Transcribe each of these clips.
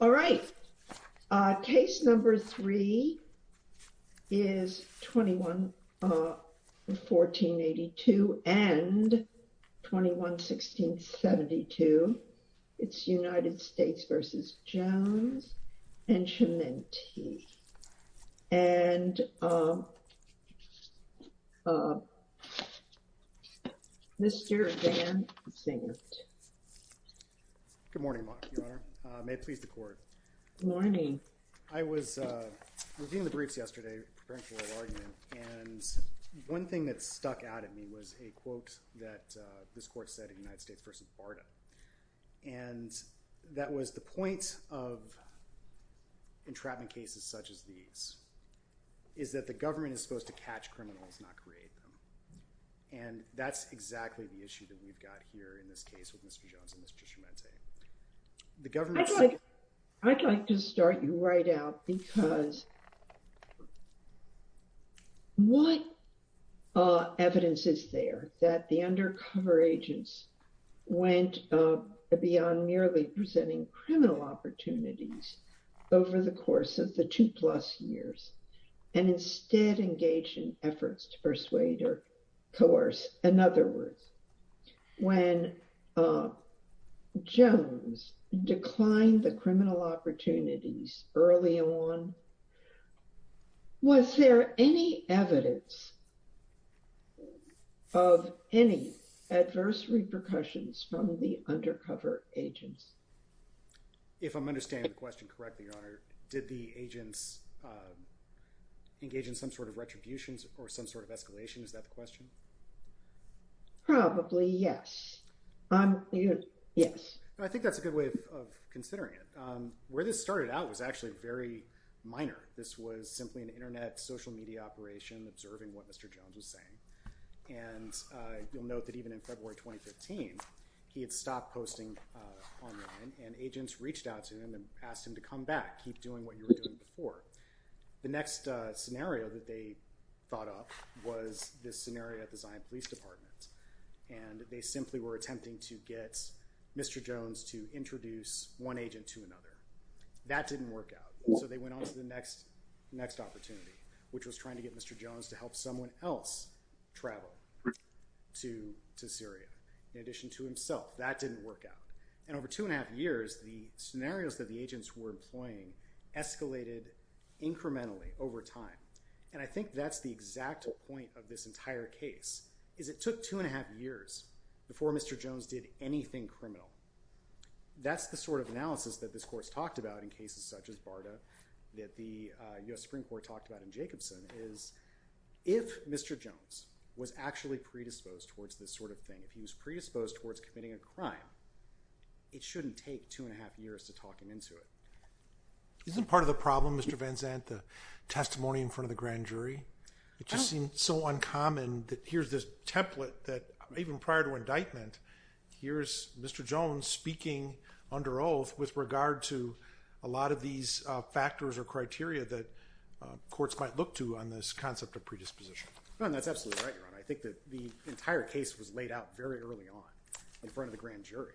all right case number three is 21 1482 and 21 1672 it's United States versus Jones and Chiminti and Mr. Van Zinkt. Good morning Your Honor. May it please the court. Good morning. I was reviewing the briefs yesterday preparing for the argument and one thing that stuck out at me was a quote that this court said in United States v. Barta and that was the point of entrapment cases such as these is that the government is supposed to catch criminals not create them and that's exactly the issue that we've got here in this case with Mr. Jones and Mr. Chiminti. I'd like to start you right out because what evidence is there that the undercover agents went beyond merely presenting criminal opportunities over the course of the two plus years and instead engage in efforts to persuade or coerce. In other words when Jones declined the criminal opportunities early on was there any evidence of any adverse repercussions from the undercover agents. If I'm understanding the question correctly Your Honor did the agents engage in some sort of retributions or some sort of escalation is that the question? Probably yes. Yes. I think that's a good way of considering it. Where this started out was actually very minor. This was simply an internet social media operation observing what Mr. Jones was saying and you'll note that even in February 2015 he had stopped posting online and agents reached out to him and asked him to come back keep doing what you were doing before. The next scenario that they thought up was this scenario at the Zion Police Department and they were attempting to get Mr. Jones to introduce one agent to another. That didn't work out so they went on to the next opportunity which was trying to get Mr. Jones to help someone else travel to Syria in addition to himself. That didn't work out and over two and a half years the scenarios that the agents were employing escalated incrementally over time and I think that's the exact point of this entire case is it took two and a half years before Mr. Jones did anything criminal. That's the sort of analysis that this Court's talked about in cases such as BARDA that the U.S. Supreme Court talked about in Jacobson is if Mr. Jones was actually predisposed towards this sort of thing if he was predisposed towards committing a crime it shouldn't take two and a half years to talk him into it. Isn't part of the problem Mr. Van Zandt the testimony in front of the grand jury it just seemed so uncommon that here's this template that even prior to indictment here's Mr. Jones speaking under oath with regard to a lot of these factors or criteria that courts might look to on this concept of predisposition. No and that's absolutely right Your Honor. I think that the entire case was laid out very early on in front of the grand jury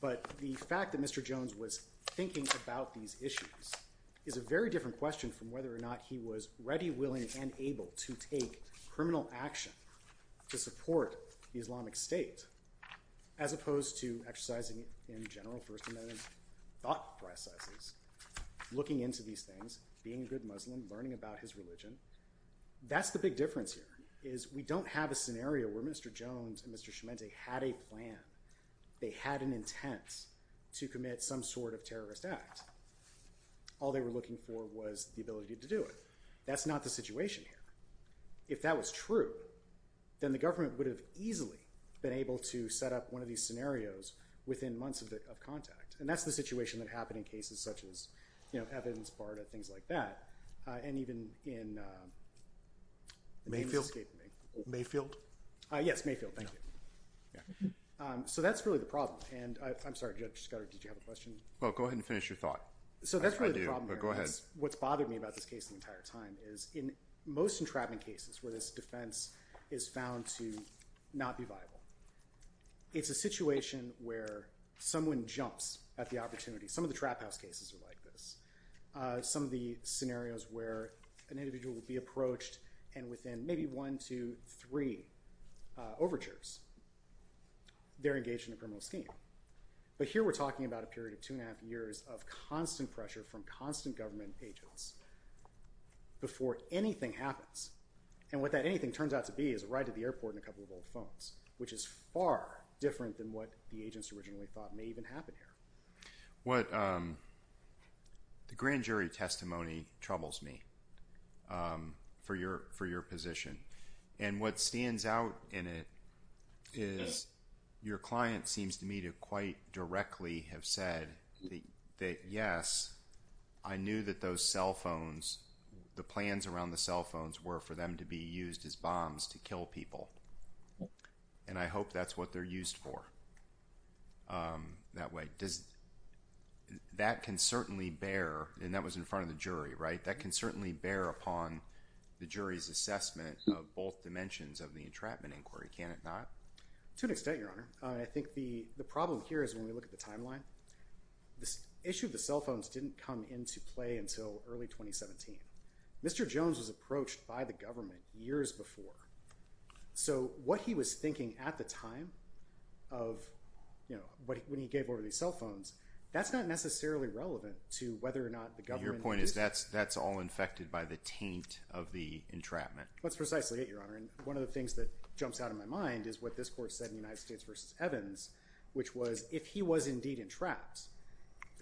but the fact that Mr. Jones was thinking about these issues is a very different question from whether or not he was ready willing and able to take criminal action to support the Islamic State as opposed to exercising in general First Amendment thought processes looking into these things being a good Muslim learning about his religion. That's the big difference here is we don't have a scenario where Mr. Jones and Mr. Schimente had a plan. They had an intent to do it. That's not the situation here. If that was true then the government would have easily been able to set up one of these scenarios within months of contact and that's the situation that happened in cases such as you know Evans, Barta, things like that and even in Mayfield. Yes Mayfield. Thank you. So that's really the problem and I'm sorry Judge Scudder did you have a question? Well go ahead and finish your thought. So that's really the problem. Go ahead. What's the entire time is in most entrapment cases where this defense is found to not be viable it's a situation where someone jumps at the opportunity. Some of the trap house cases are like this. Some of the scenarios where an individual will be approached and within maybe one two three overtures they're engaged in a criminal scheme but here we're talking about a period of two and a constant pressure from constant government agents before anything happens and what that anything turns out to be is a ride to the airport and a couple of old phones which is far different than what the agents originally thought may even happen here. What the grand jury testimony troubles me for your position and what stands out in it is your client seems to me to quite directly have said that yes I knew that those cell phones the plans around the cell phones were for them to be used as bombs to kill people and I hope that's what they're used for that way. Does that can certainly bear and that was in front of the jury right that can certainly bear upon the jury's assessment of both dimensions of the entrapment inquiry can it not? To an extent your honor. I this issue of the cell phones didn't come into play until early 2017. Mr. Jones was approached by the government years before so what he was thinking at the time of you know what when he gave over these cell phones that's not necessarily relevant to whether or not the government your point is that's that's all infected by the taint of the entrapment. That's precisely it your honor and one of the things that jumps out of my mind is what this court said in the United States versus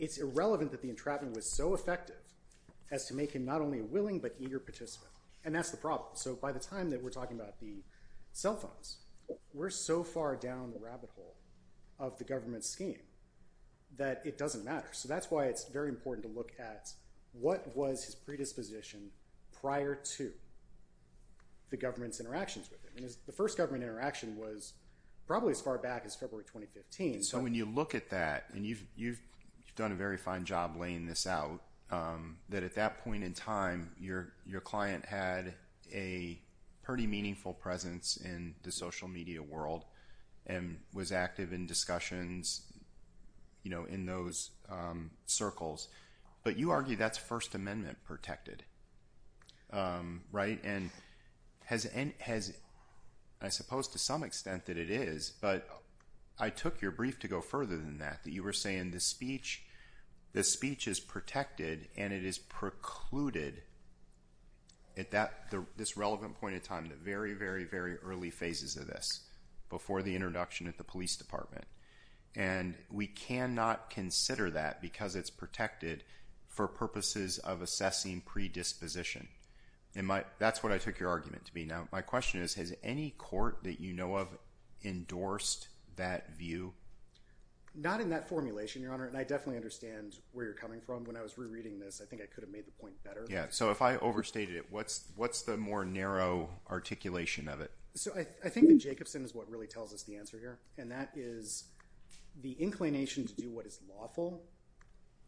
it's irrelevant that the entrapment was so effective as to make him not only willing but eager participant and that's the problem so by the time that we're talking about the cell phones we're so far down the rabbit hole of the government scheme that it doesn't matter so that's why it's very important to look at what was his predisposition prior to the government's interactions with him and the first government interaction was probably as far back as February 2015. So when you look at that and you've you've done a very fine job laying this out that at that point in time your your client had a pretty meaningful presence in the social media world and was active in discussions you know in those circles but you argue that's first amendment protected right and has and has I suppose to some extent that it is but I took your brief to go further than that that you were saying this speech this speech is protected and it is precluded at that this relevant point of time that very very very early phases of this before the introduction at the police department and we cannot consider that because it's protected for purposes of assessing predisposition and my that's what I took your argument to be now my question is has any court that you know of endorsed that view not in that formulation your honor and I definitely understand where you're coming from when I was rereading this I think I could have made the point better yeah so if I overstated it what's what's the more narrow articulation of it so I think that Jacobson is what really tells us the answer here and that is the inclination to do what is lawful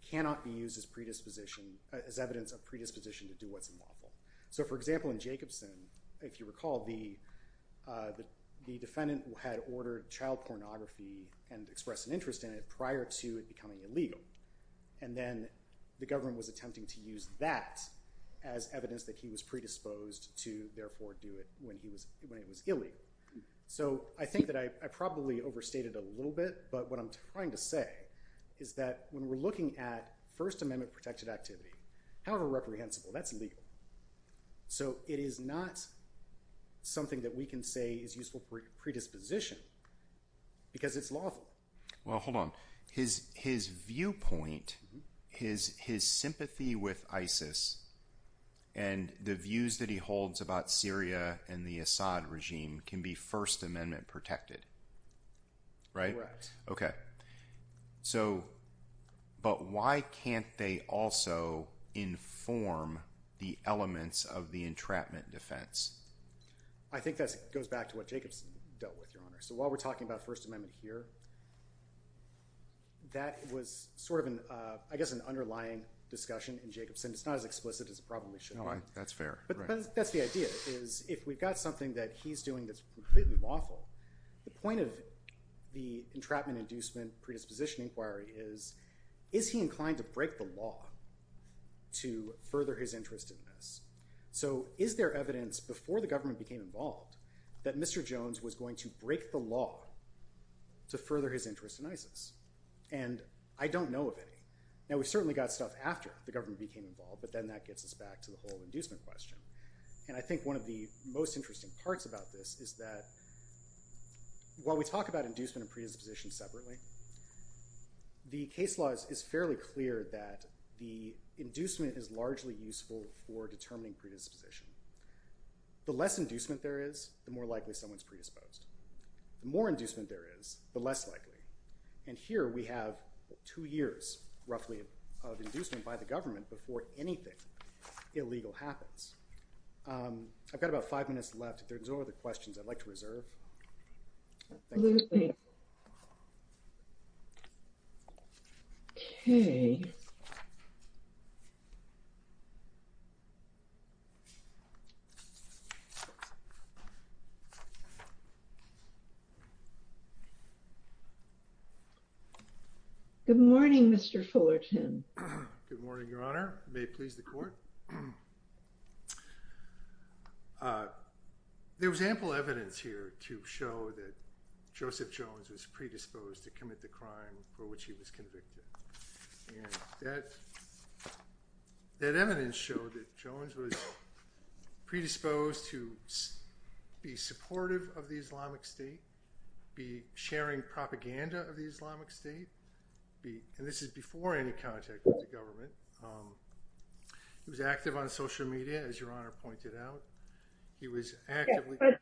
cannot be used as predisposition as evidence of predisposition to do what's unlawful so for example in Jacobson if you recall the the defendant had ordered child pornography and expressed an interest in it prior to it becoming illegal and then the government was attempting to use that as evidence that he was predisposed to therefore do it when he was when is that when we're looking at first amendment protected activity however reprehensible that's legal so it is not something that we can say is useful predisposition because it's lawful well hold on his his viewpoint his his sympathy with ISIS and the views that he holds about Syria and the Assad regime can be first amendment protected right okay so but why can't they also inform the elements of the entrapment defense I think that goes back to what Jacobson dealt with your honor so while we're talking about first amendment here that was sort of an uh I guess an underlying discussion in Jacobson it's not as explicit as it probably should all right that's fair but that's the idea is if we've got something that he's doing that's completely lawful the point of the entrapment inducement predisposition inquiry is is he inclined to break the law to further his interest in this so is there evidence before the government became involved that Mr. Jones was going to break the law to further his interest in ISIS and I don't know of any now we certainly got stuff after the government became involved but then that gets us to the whole inducement question and I think one of the most interesting parts about this is that while we talk about inducement and predisposition separately the case law is fairly clear that the inducement is largely useful for determining predisposition the less inducement there is the more likely someone's predisposed the more inducement there is the less likely and here we have two years roughly of inducement by the government before anything illegal happens um I've got about five minutes left if there's no other questions I'd like to reserve okay good morning Mr. Fullerton good morning your honor may it please the court uh there was ample evidence here to show that Joseph Jones was predisposed to commit the crime for which he was convicted and that that evidence showed that Jones was predisposed to be supportive of the Islamic State be sharing propaganda of the Islamic State be and this is before any contact with the government um he was active on social media as your honor pointed out he was actively but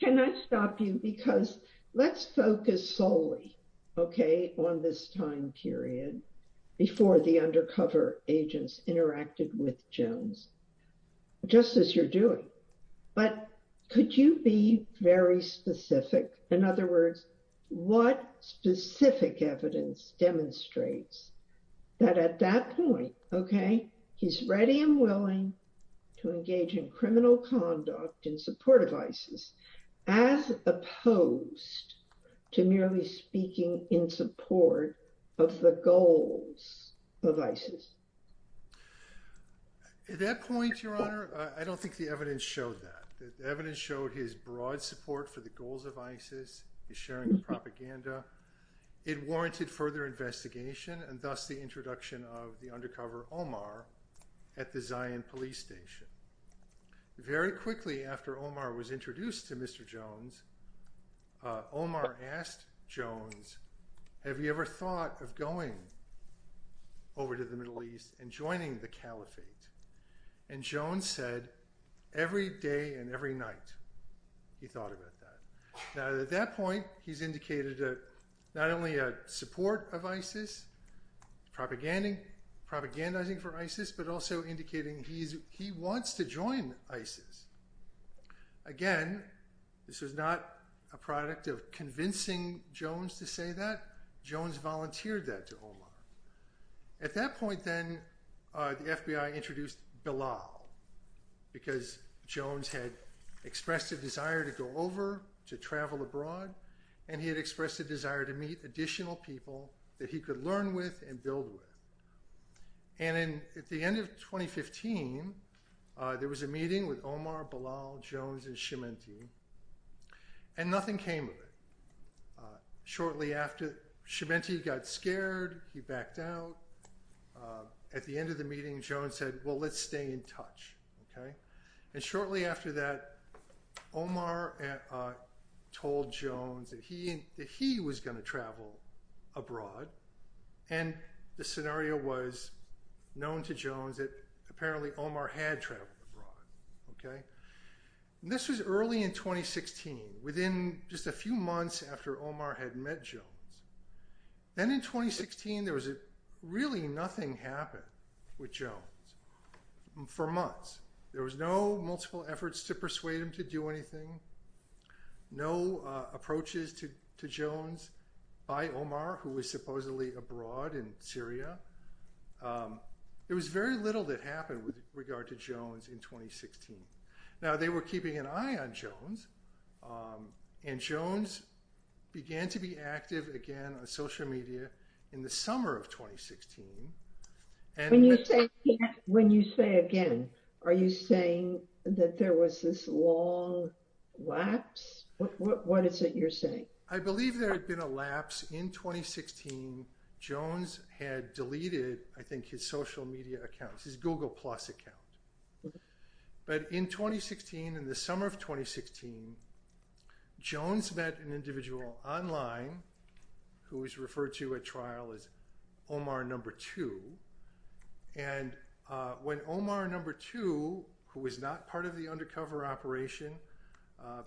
can I stop you because let's focus solely okay on this time period before the undercover agents interacted with Jones just as you're doing but could you be very specific in other words what specific evidence demonstrates that at that point okay he's ready and willing to engage in criminal conduct in support of ISIS as opposed to merely speaking in support of the goals of ISIS at that point your honor I don't think the evidence showed that the evidence showed his broad support for the goals of ISIS is sharing the propaganda it warranted further investigation and thus the introduction of the undercover Omar at the Zion police station very quickly after Omar was introduced to Mr. Jones Omar asked Jones have you ever thought of going over to the Middle East and joining the caliphate and Jones said every day and every night he thought about that now at that point he's indicated a not only a support of ISIS propagandizing for ISIS but also indicating he's he wants to join ISIS again this was not a product of convincing Jones to say that Jones volunteered that to Omar at that point then the FBI introduced Bilal because Jones had expressed a desire to go over to travel abroad and he had expressed a desire to meet additional people that he could learn with and build with and in at the end of 2015 there was a meeting with Omar Bilal Jones and Chiminti and nothing came of it shortly after Chiminti got scared he backed out at the end of the meeting Jones said well let's stay in touch okay and shortly after that Omar told Jones that he that he was going to travel abroad and the scenario was known to Jones that apparently Omar had traveled abroad okay this was early in 2016 within just a few months after Omar had met Jones then in 2016 there was a really nothing happened with Jones for months there was no multiple efforts to persuade him to do anything no approaches to Jones by Omar who was supposedly abroad in Syria it was very little that happened with regard to Jones in 2016 now they were keeping an eye on Jones and Jones began to be active again on social media in the summer of 2016 and when you say again are you saying that there was this long lapse what is it you're saying I believe there had been a lapse in 2016 Jones had deleted I think his social media accounts his google plus account but in 2016 in the summer of 2016 Jones met an individual online who was referred to at trial as Omar number two and when Omar number two who was not part of the undercover operation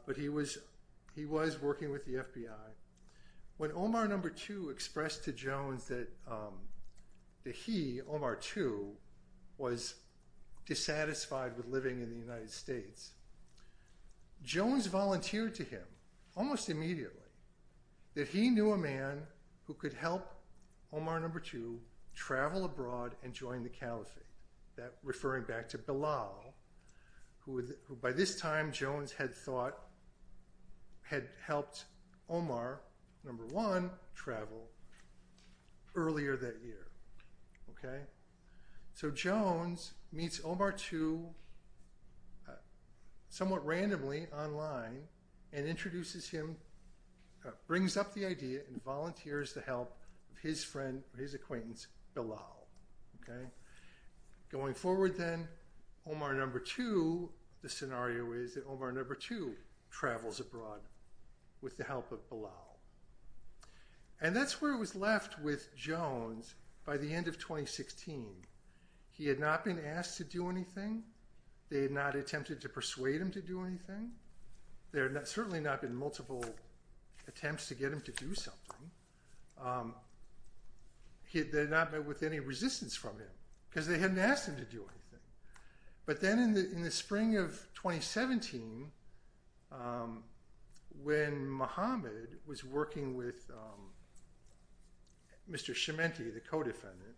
but he was he was working with the FBI when Omar number two expressed to Jones that that he Omar two was dissatisfied with living in the United States Jones volunteered to almost immediately that he knew a man who could help Omar number two travel abroad and join the caliphate that referring back to Bilal who by this time Jones had thought had helped Omar number one travel earlier that year okay so Jones meets Omar two somewhat randomly online and introduces him brings up the idea and volunteers the help of his friend his acquaintance Bilal okay going forward then Omar number two the scenario is that travels abroad with the help of Bilal and that's where it was left with Jones by the end of 2016 he had not been asked to do anything they had not attempted to persuade him to do anything there had certainly not been multiple attempts to get him to do something he had not met with any resistance from him because they hadn't asked him to do anything but then in the in the spring of 2017 when Mohammed was working with Mr. Chimente the co-defendant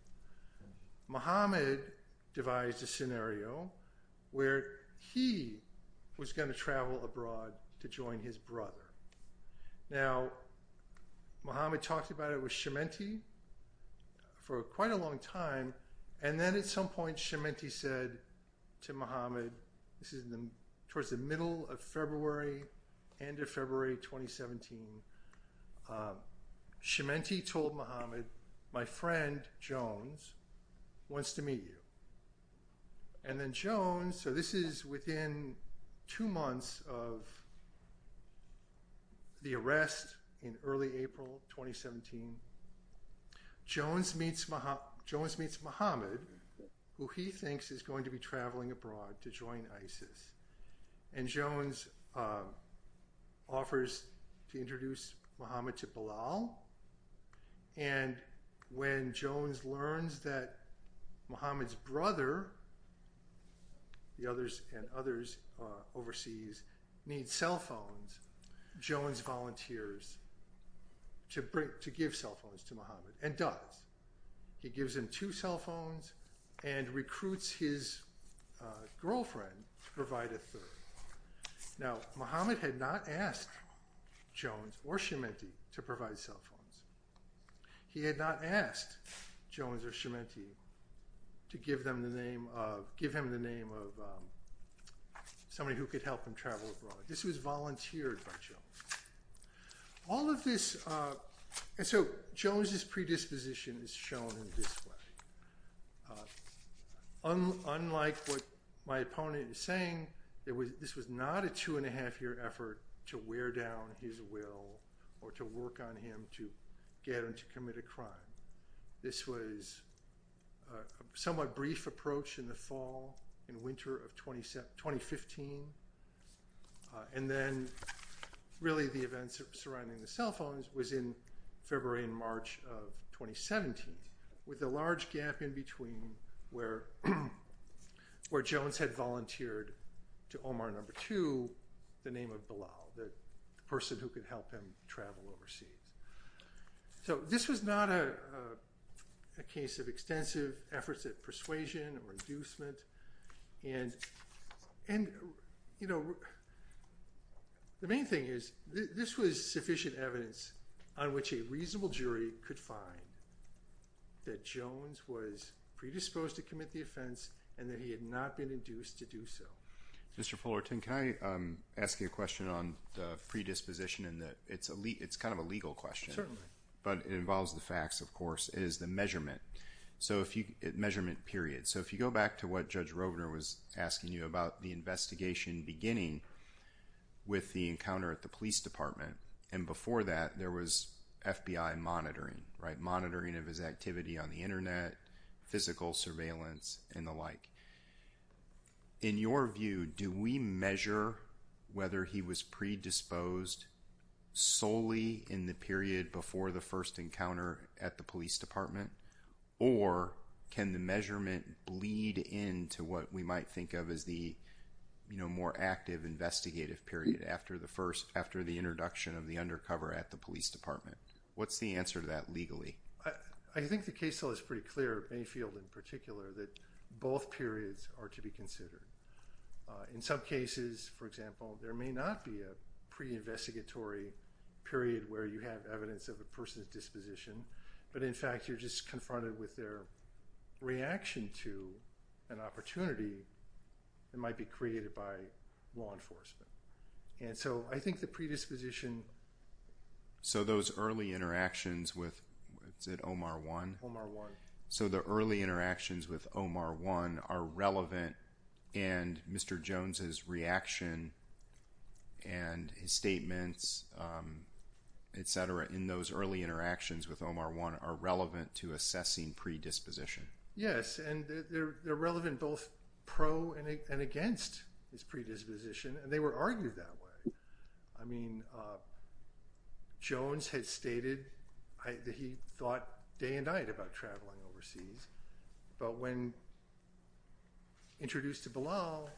Mohammed devised a scenario where he was going to travel abroad to join his brother now Mohammed talked about it with Chimente for quite a long time and then at some point Chimente said to Mohammed this is the towards the middle of February end of February 2017 Chimente told Mohammed my friend Jones wants to meet you and then Jones so this is within two months of the arrest in early April 2017 Jones meets Mohammed who he thinks is going to be traveling abroad to join ISIS and Jones offers to introduce Mohammed to Bilal and when Jones learns that Mohammed's brother the others and others overseas need cell phones Jones volunteers to bring to give cell phones to Mohammed and does he gives him two cell phones and recruits his girlfriend to provide a third now Mohammed had not asked Jones or Chimente to provide cell phones he had not asked Jones or give him the name of somebody who could help him travel abroad this was volunteered by Jones all of this and so Jones's predisposition is shown in this way unlike what my opponent is saying there was this was not a two and a half year effort to wear down his will or to work on him to get him to commit a crime this was somewhat brief approach in the fall in winter of 2015 and then really the events surrounding the cell phones was in February and March of 2017 with a large gap in between where Jones had volunteered to Omar number two the name of Bilal the person who could help him travel overseas so this was not a a case of extensive efforts at persuasion or inducement and and you know the main thing is this was sufficient evidence on which a reasonable jury could find that Jones was predisposed to commit the offense and that he had not been induced to it's kind of a legal question certainly but it involves the facts of course is the measurement so if you measurement period so if you go back to what Judge Rovner was asking you about the investigation beginning with the encounter at the police department and before that there was FBI monitoring right monitoring of his activity on the internet physical surveillance and the like in your view do we measure whether he was predisposed solely in the period before the first encounter at the police department or can the measurement bleed into what we might think of as the you know more active investigative period after the first after the introduction of the undercover at the police department what's the answer to that legally I think the case so pretty clear any field in particular that both periods are to be considered in some cases for example there may not be a pre-investigatory period where you have evidence of a person's disposition but in fact you're just confronted with their reaction to an opportunity that might be created by law enforcement and so I think the predisposition so those early interactions with what's it Omar one Omar one so the early interactions with Omar one are relevant and Mr. Jones's reaction and his statements etc in those early interactions with Omar one are relevant to assessing predisposition yes and they're relevant both pro and against his predisposition and they were argued that way I mean uh Jones had stated I that he thought day and night about traveling overseas but when introduced to below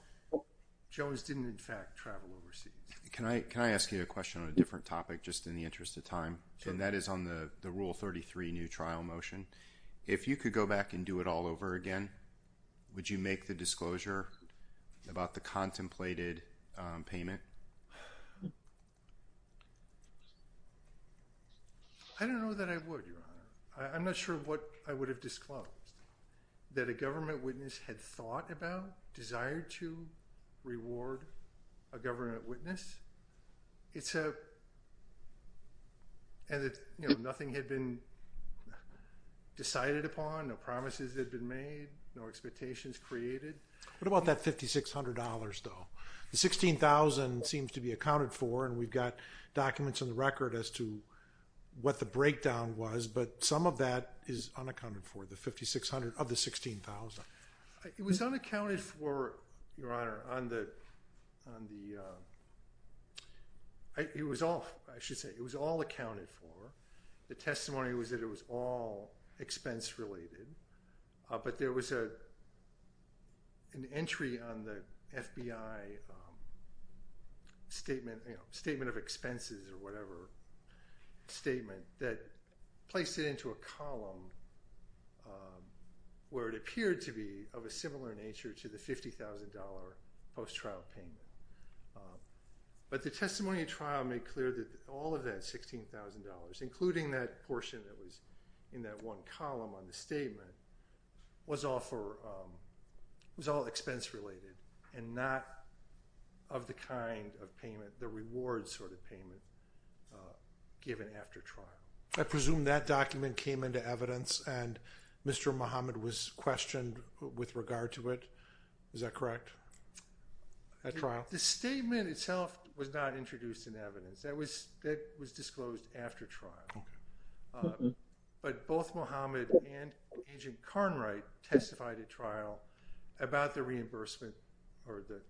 Jones didn't in fact travel overseas can I can I ask you a question on a different topic just in the interest of time and that is on the the rule 33 new trial motion if you could go back and do it all over again would you make the disclosure about the contemplated payment I don't know that I would your honor I'm not sure what I would have disclosed that a government witness had thought about desired to reward a government witness it's a and that you know nothing had been decided upon no promises had been made no expectations created what about that fifty six hundred dollars though the sixteen thousand seems to be accounted for and we've got documents on the record as to what the breakdown was but some of that is unaccounted for the fifty six hundred of the sixteen thousand it was unaccounted for your honor on the on the uh it was all I should say it was all accounted for the testimony was that it was all expense related but there was a an entry on the FBI statement you know statement of expenses or whatever statement that placed it into a column where it appeared to be of a similar nature to the fifty thousand dollar post-trial payment but the testimony trial made clear that all of that sixteen thousand including that portion that was in that one column on the statement was all for was all expense related and not of the kind of payment the reward sort of payment given after trial I presume that document came into evidence and Mr. Muhammad was questioned with regard to it is that correct at trial the statement itself was not introduced in evidence that was that was disclosed after trial but both Muhammad and Agent Carnwright testified at trial about the reimbursement or the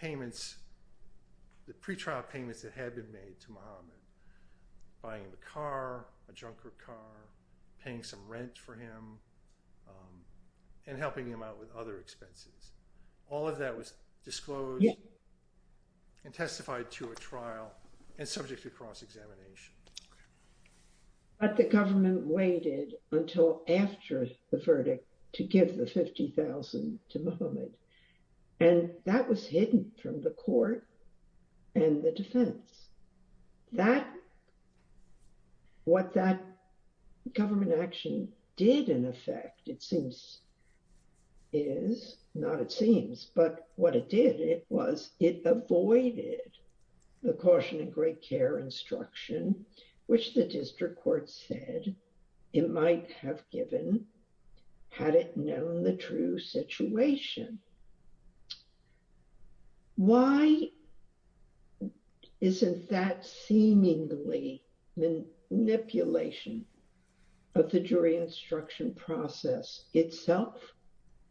payments the pre-trial payments that had been made to Muhammad buying the car a junker car paying some rent for him and helping him out with other expenses all of that was disclosed and testified to a trial and subject to cross-examination but the government waited until after the verdict to give the fifty thousand to Muhammad and that was hidden from the court and the defense that what that government action did in effect it seems is not it seems but what it did it was it avoided the caution and great care instruction which the district court said it might have given had it known the true situation why isn't that seemingly the manipulation of the jury instruction process itself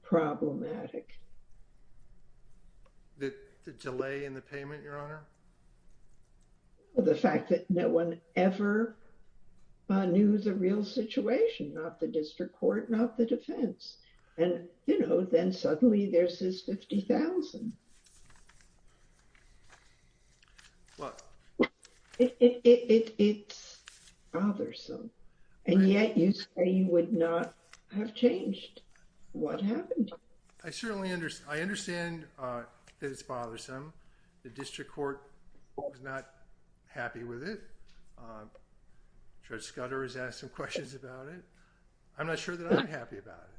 problematic the delay in the payment your honor the fact that no one ever knew the real situation not the district court not the defense and you know then suddenly there's this 50 000 well it it's bothersome and yet you say you would not have changed what happened i certainly understand i understand uh that it's bothersome the district court was not happy with it judge scudder has asked some questions about it i'm not sure that i'm happy about it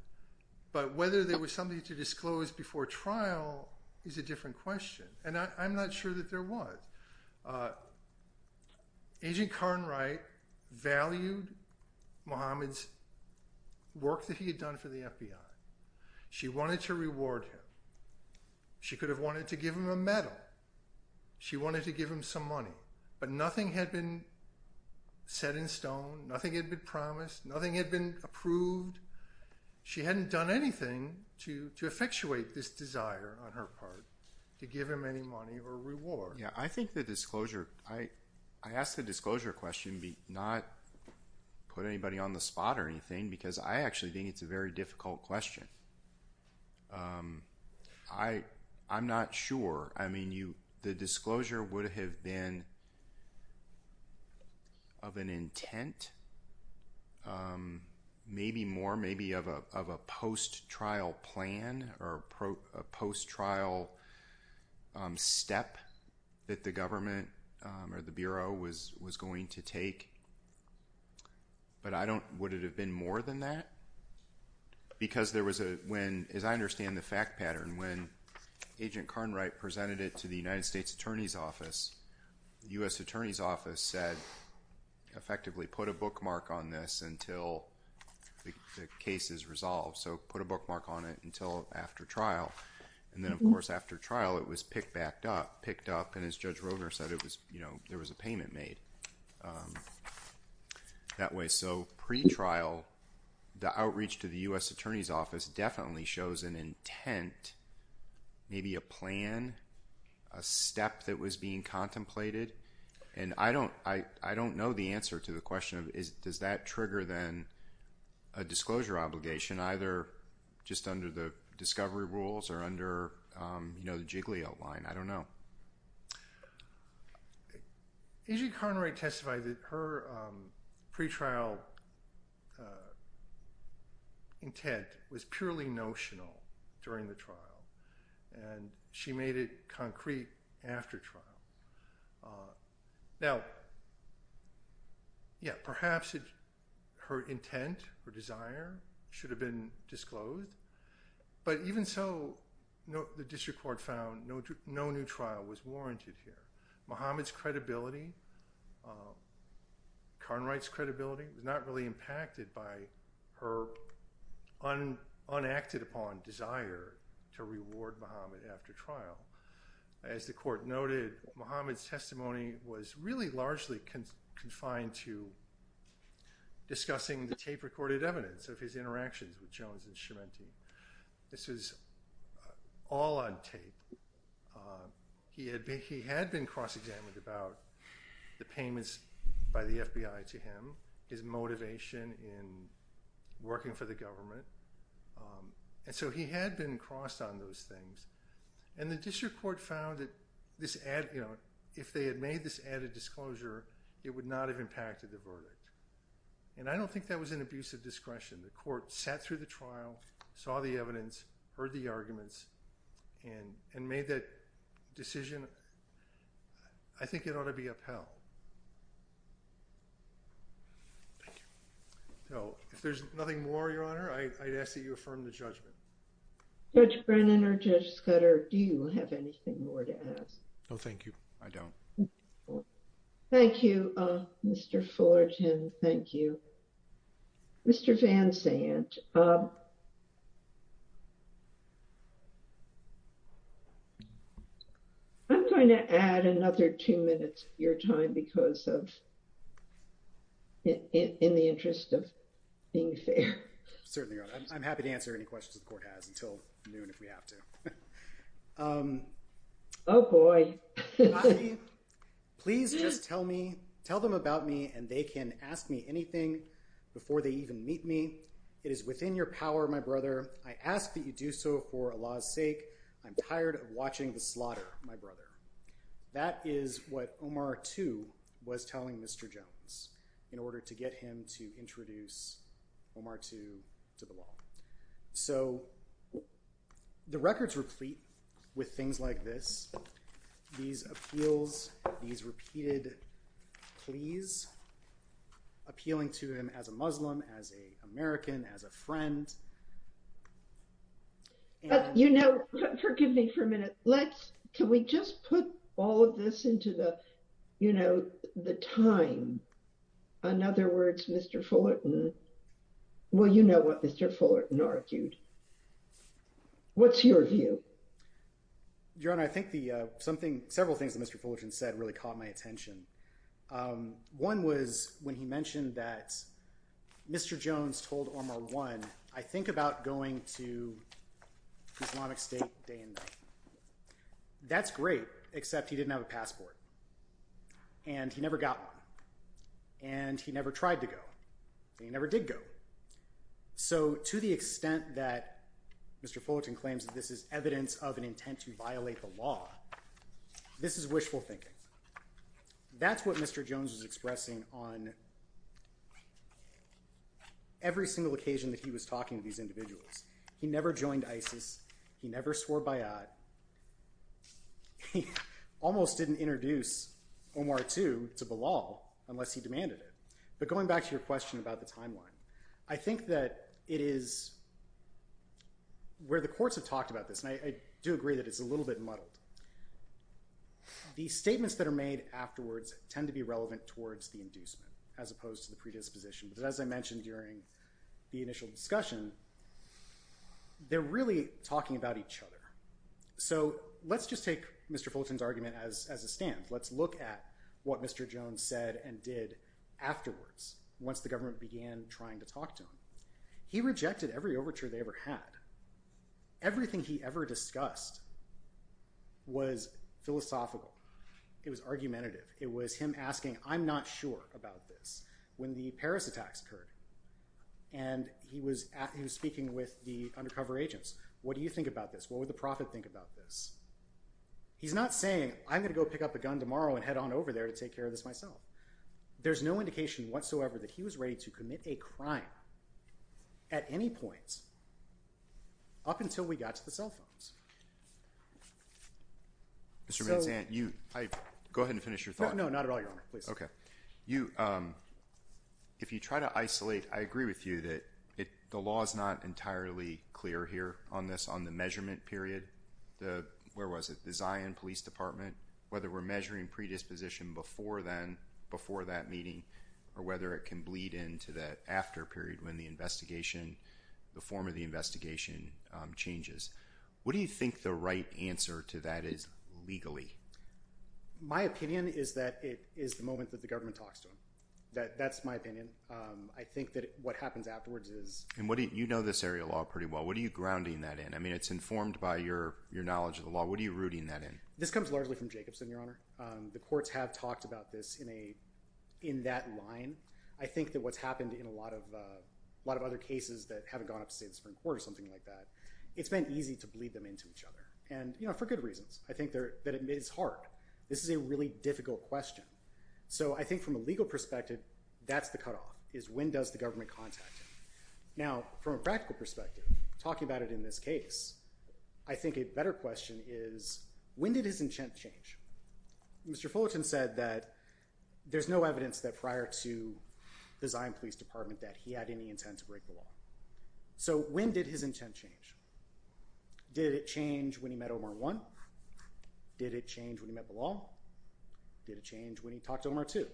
but whether there was something to disclose before trial is a different question and i'm not sure that there was agent kern right valued muhammad's work that he had done for the fbi she wanted to reward him she could have wanted to give him a medal she wanted to give him some money but nothing had been set in stone nothing had been promised nothing had been approved she hadn't done anything to to effectuate this desire on her part to give him any money or reward yeah i think the disclosure i i asked the disclosure question be not put anybody on the spot or anything because i actually think it's a very difficult question um i i'm not sure i mean you the disclosure would have been of an intent um maybe more maybe of a of a post-trial plan or a post-trial step that the government um or the bureau was was going to take but i don't would it have been more than that because there was a when as i understand the attorney's office the u.s attorney's office said effectively put a bookmark on this until the case is resolved so put a bookmark on it until after trial and then of course after trial it was picked backed up picked up and as judge roger said it was you know there was a payment made that way so pre-trial the outreach to the u.s attorney's office definitely shows an intent maybe a plan a step that was being contemplated and i don't i i don't know the answer to the question of is does that trigger then a disclosure obligation either just under the discovery rules or under um you know the jiggly outline i don't know as you can testify that her um pre-trial intent was purely notional during the trial and she made it concrete after trial now yeah perhaps her intent her desire should have been disclosed but even so no the district court found no no new trial was warranted here muhammad's credibility karnwright's credibility was not really impacted by her un unacted upon desire to reward muhammad after trial as the court noted muhammad's testimony was really largely confined to discussing the tape recorded evidence of his interactions with jones and shimanti this was all on tape he had he had been cross-examined about the payments by the fbi to him his motivation in working for the government and so he had been crossed on those things and the district court found that this ad you know if they had made this added disclosure it would not have impacted the verdict and i don't think that was an abuse of discretion the court sat through the trial saw the evidence heard the arguments and and made that decision i think it ought to be upheld thank you so if there's nothing more your honor i'd ask that you affirm the judgment judge brennan or judge scudder do you have anything more to ask no thank you i don't oh thank you uh mr fullerton thank you mr van zandt i'm going to add another two minutes of your time because of in the interest of being fair certainly i'm happy to answer any questions the court has until noon if we have to um oh boy please just tell me tell them about me and they can ask me anything before they even meet me it is within your power my brother i ask that you do so for allah's sake i'm tired of watching the slaughter my brother that is what omar too was telling mr jones in order to get him to introduce omar to to the law so the records replete with things like this these appeals these repeated pleas appealing to him as a muslim as a american as a friend but you know forgive me for a minute let's can we just put all of this into the you know the time in other words mr fullerton well you know what mr fullerton argued what's your view your honor i think the uh something several things that mr fullerton said really caught my attention um one was when he mentioned that mr jones told omar one i think about going to islamic state day and night that's great except he didn't have a passport and he never got one and he never tried to go he never did go so to the extent that mr fullerton claims that this is evidence of an intent to violate the law this is wishful thinking that's what mr jones is expressing on every single occasion that he was talking to these individuals he never joined isis he never swore by it he almost didn't introduce omar to to the law unless he demanded it but going back to your question about the timeline i think that it is where the courts have talked about this and i do agree that it's a little bit muddled these statements that are made afterwards tend to be relevant towards the inducement as opposed to the predisposition as i mentioned during the initial discussion they're really talking about each other so let's just take mr fullerton's argument as as a stand let's look at what mr jones said and did afterwards once the government began trying to talk to him he rejected every overture they ever had everything he ever discussed was philosophical it was argumentative it was him asking i'm not sure about this when the paris attacks occurred and he was at he was speaking with the undercover agents what do you think about this what would the prophet think about this he's not saying i'm gonna go pick up a gun tomorrow and head on over there to take care of this myself there's no indication whatsoever that he was ready to commit a crime at any point up until we got to the cell you um if you try to isolate i agree with you that it the law is not entirely clear here on this on the measurement period the where was it the zion police department whether we're measuring predisposition before then before that meeting or whether it can bleed into that after period when the investigation the form of the investigation changes what do you think the right answer to that is legally my opinion is that it is the moment that the government talks to him that that's my opinion um i think that what happens afterwards is and what do you know this area law pretty well what are you grounding that in i mean it's informed by your your knowledge of the law what are you rooting that in this comes largely from jacobson your honor um the courts have talked about this in a in that line i think that what's happened in a lot of uh a lot of other cases that haven't gone up to say the supreme court or something like that it's been easy to bleed them into each other and you know for good reasons i think that it is hard this is a really difficult question so i think from a legal perspective that's the cutoff is when does the government contact him now from a practical perspective talking about it in this case i think a better question is when did his intent change mr fullerton said that there's no evidence that prior to the zion police department that he had any intent to break the law so when did his intent change did it change when he met omar one did it change when he met the law did it change when he talked to omar two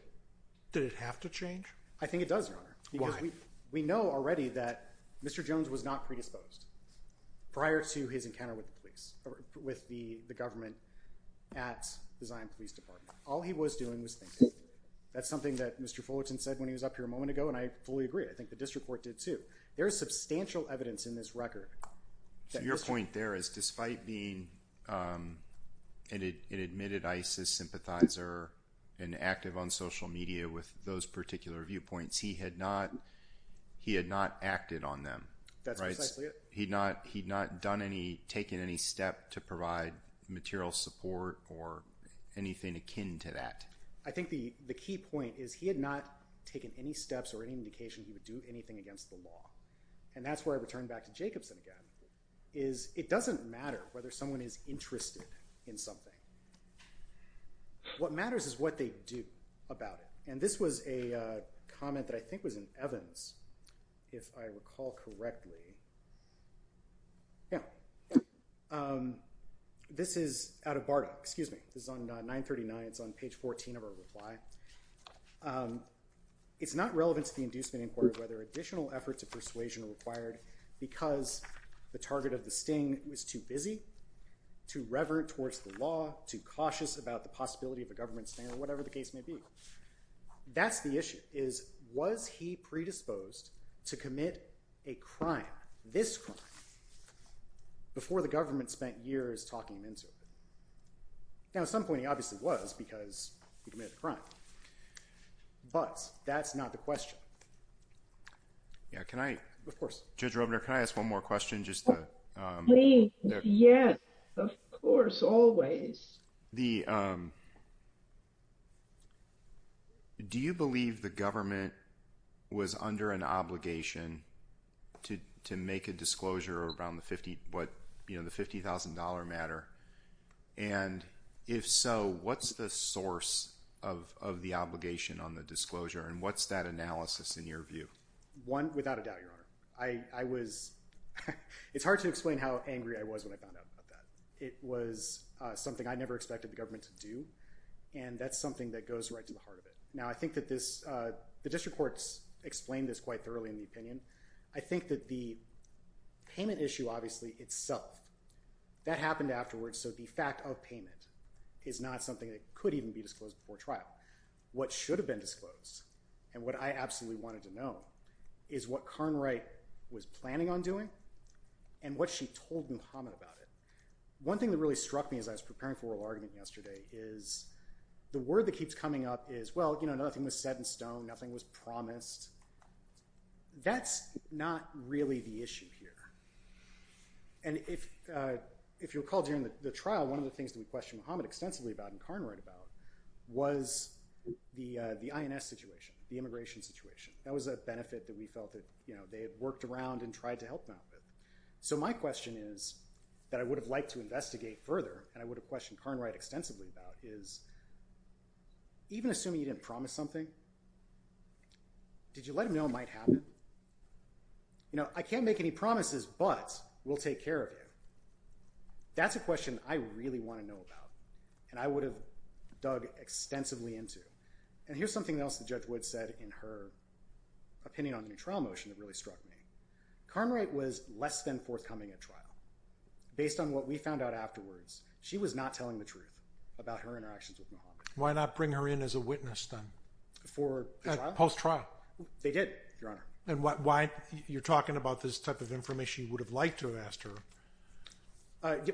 did it have to change i think it does your honor because we we know already that mr jones was not predisposed prior to his encounter with the police or with the the government at the zion police department all he was doing was thinking that's something that mr fullerton said when he was up here a moment ago and i fully agree i think the district court did too there is substantial evidence in this record your point there is despite being um and it admitted isis sympathizer and active on social media with those particular viewpoints he had not he had not acted on them that's precisely it he'd not he'd not done any taken any step to provide material support or anything akin to that i think the the key point is he had not taken any steps or any indication he would do anything against the law and that's where i return back to jacobson again is it doesn't matter whether someone is interested in something what matters is what they do about it and this was a comment that i think was in evans if i recall correctly yeah um this is out of bardo excuse me this is on 939 it's on page 14 of our reply um it's not relevant to the inducement inquiry whether additional efforts of persuasion are required because the target of the sting was too busy too reverent towards the law too cautious about the possibility of a government standard whatever the case may be that's the issue is was he predisposed to commit a crime this crime before the government spent years talking him into it now at some point he obviously was because he committed a crime but that's not the question yeah can i of course judge roebner can i ask one more question just um yes of course always the um do you believe the government was under an obligation to to make a disclosure around the what you know the fifty thousand dollar matter and if so what's the source of of the obligation on the disclosure and what's that analysis in your view one without a doubt your honor i i was it's hard to explain how angry i was when i found out about that it was something i never expected the government to do and that's something that goes right to the heart of it now i think that this uh the district courts explained this quite thoroughly in the opinion i think that the payment issue obviously itself that happened afterwards so the fact of payment is not something that could even be disclosed before trial what should have been disclosed and what i absolutely wanted to know is what kern right was planning on doing and what she told muhammad about it one thing that really struck me as i was preparing for oral argument yesterday is the word that keeps coming up is well you know nothing was set in stone nothing was promised that's not really the issue here and if uh if you recall during the trial one of the things that we questioned muhammad extensively about and karn right about was the uh the ins situation the immigration situation that was a benefit that we felt that you know they had worked around and tried to help them out with so my question is that i would have liked to investigate further and i would have questioned karn right extensively about is even assuming you didn't promise something did you let him know it you know i can't make any promises but we'll take care of you that's a question i really want to know about and i would have dug extensively into and here's something else the judge would said in her opinion on the trial motion that really struck me karn right was less than forthcoming at trial based on what we found out afterwards she was not telling the truth about her interactions with muhammad why not bring her in as a witness then before post-trial they did your honor and what why you're talking about this type of information you would have liked to have asked her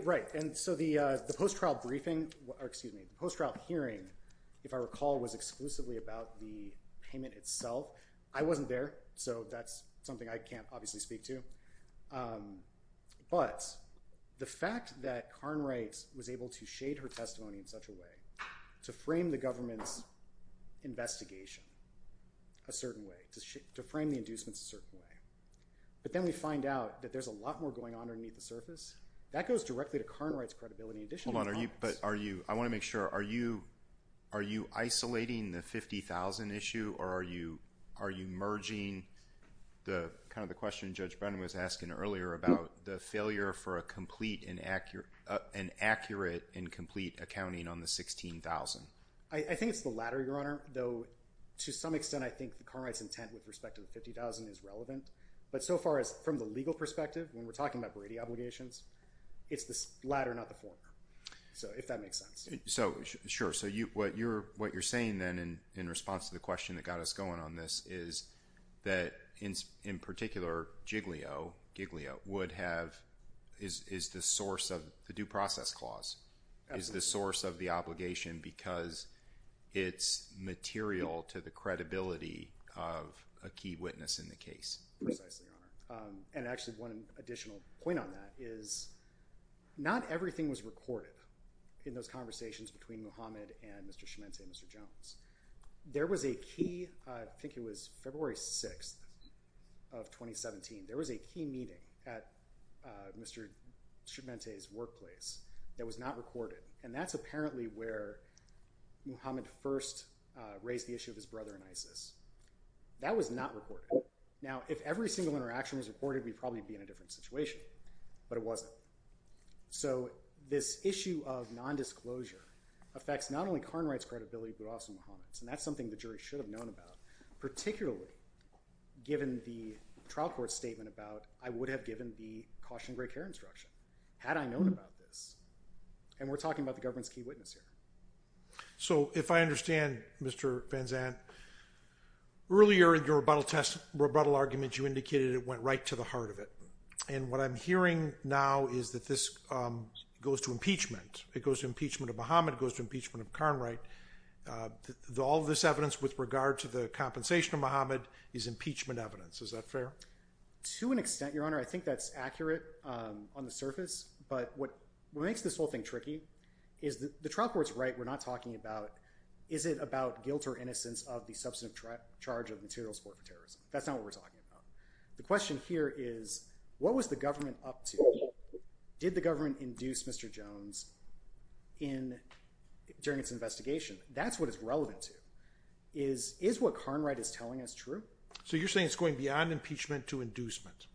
right and so the uh the post-trial briefing or excuse me post-trial hearing if i recall was exclusively about the payment itself i wasn't there so that's something i can't obviously speak to um but the fact that karn right was able to shade her testimony in such a way to frame the a certain way but then we find out that there's a lot more going on underneath the surface that goes directly to karn right's credibility in addition hold on are you but are you i want to make sure are you are you isolating the 50 000 issue or are you are you merging the kind of the question judge brennan was asking earlier about the failure for a complete and accurate an accurate and complete accounting on the 16 000 i i think it's the latter your honor though to some extent i think the car rights intent with respect to the 50 000 is relevant but so far as from the legal perspective when we're talking about brady obligations it's the latter not the former so if that makes sense so sure so you what you're what you're saying then and in response to the question that got us going on this is that in in particular giglio giglio would have is is the to the credibility of a key witness in the case precisely your honor and actually one additional point on that is not everything was recorded in those conversations between muhammad and mr schmentz and mr jones there was a key i think it was february 6th of 2017 there was a key meeting at uh mr schmentz workplace that was not recorded and that's apparently where muhammad first raised the issue of his brother and isis that was not reported now if every single interaction was reported we'd probably be in a different situation but it wasn't so this issue of non-disclosure affects not only khan rights credibility but also muhammad's and that's something the jury should have known about particularly given the trial court statement about i would have given the caution gray care instruction had i known about this and we're talking about the government's key witness here so if i understand mr vanzant earlier in your rebuttal test rebuttal argument you indicated it went right to the heart of it and what i'm hearing now is that this um goes to impeachment it goes to impeachment of muhammad goes to impeachment of khan right uh all this evidence with regard to the compensation of muhammad is impeachment evidence is that fair to an extent your honor i think that's accurate on the surface but what makes this whole thing tricky is the trial court's right we're not talking about is it about guilt or innocence of the substantive charge of material support for terrorism that's not what we're talking about the question here is what was the government up to did the government induce mr jones in during its investigation that's what it's relevant to is is what khan right is telling us true so you're saying it's going beyond impeachment to inducement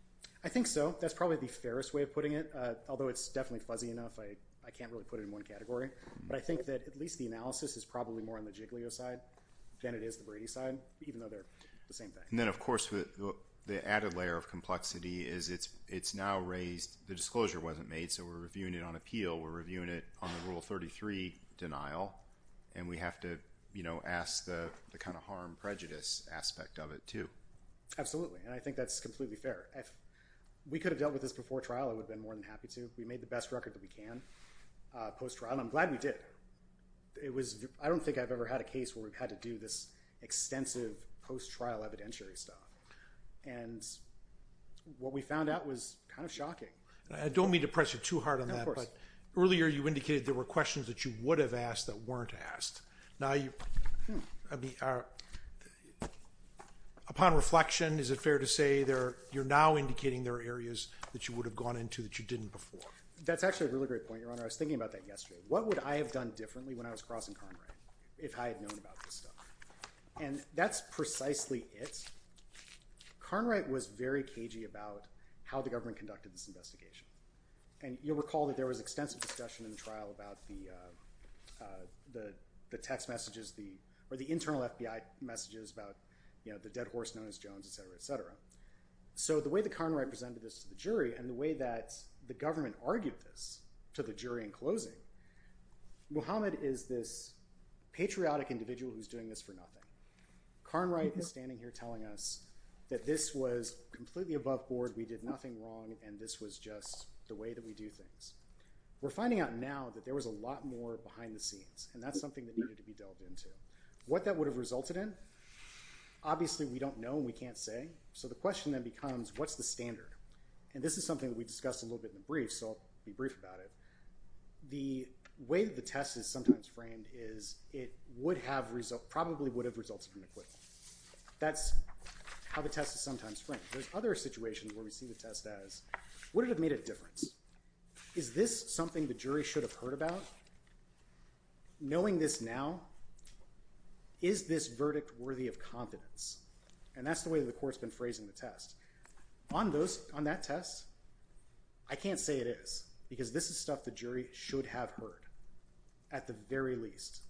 i think so that's probably the fairest way of putting it uh although it's definitely fuzzy enough i i can't really put it in one category but i think that at least the analysis is probably more on the giglio side than it is the brady side even though they're the same thing and then of course with the added layer of complexity is it's it's now raised the disclosure wasn't made so we're reviewing it on appeal we're reviewing it on the rule 33 denial and we have to you know ask the the kind of harm prejudice aspect of it too absolutely and i think that's completely fair if we could have dealt with this before trial i would have been more than happy to we made the best record that we can uh post trial i'm glad we did it was i don't think i've ever had a case where we've had to do this extensive post-trial evidentiary stuff and what we found out was kind of shocking i don't mean to press you too hard on that earlier you indicated there were questions that you would have asked that weren't asked now you i mean are upon reflection is it fair to say there you're now indicating there are areas that you would have gone into that you didn't before that's actually a really great point your honor i was thinking about that yesterday what would i have done differently when i was crossing conrad if i had known about this stuff and that's precisely it conrad was very cagey about how the government conducted this investigation and you'll recall that there was extensive discussion in the trial about the uh the the text messages the or the internal fbi messages about you know the dead horse known as jones etc etc so the way the conrad presented this to the jury and the way that the government argued this to the jury in closing muhammad is this patriotic individual who's doing this for nothing conrad is standing here telling us that this was completely above board we did nothing wrong and this was just the way that we do things we're finding out now that there was a lot more behind the scenes and that's something that needed to be delved into what that would have resulted in obviously we don't know we can't say so the question then becomes what's the standard and this is something that we discussed a little bit in the brief so i'll be brief about it the way the test is sometimes framed is it would have result probably would have resulted from the equipment that's how the test is sometimes there's other situations where we see the test as would it have made a difference is this something the jury should have heard about knowing this now is this verdict worthy of confidence and that's the way the court's been phrasing the test on those on that test i can't say it is because this is stuff the jury should have heard at the very least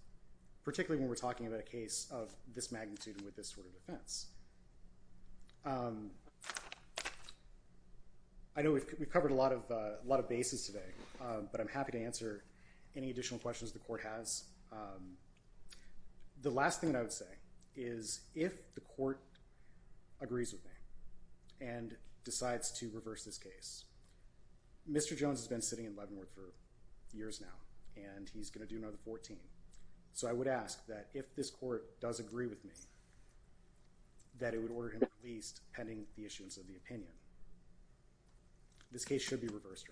particularly when we're talking about a case of this magnitude with this sort of defense um i know we've covered a lot of a lot of bases today but i'm happy to answer any additional questions the court has the last thing i would say is if the court agrees with me and decides to reverse this case mr jones has been sitting in leavenworth for years now and he's going to do 14 so i would ask that if this court does agree with me that it would order him released pending the issuance of the opinion this case should be reversed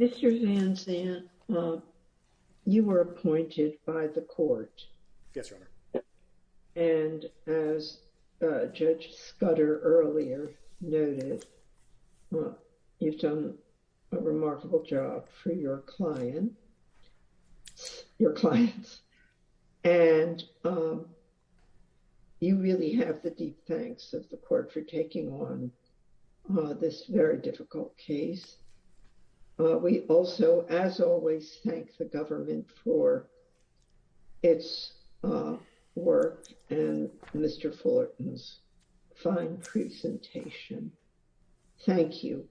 mr van zandt you were appointed by the remarkable job for your client your clients and um you really have the deep thanks of the court for taking on uh this very difficult case uh we also as always thank the government for its uh work and mr fullerton's fine presentation thank you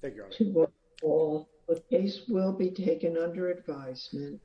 thank you all the case will be taken under advisement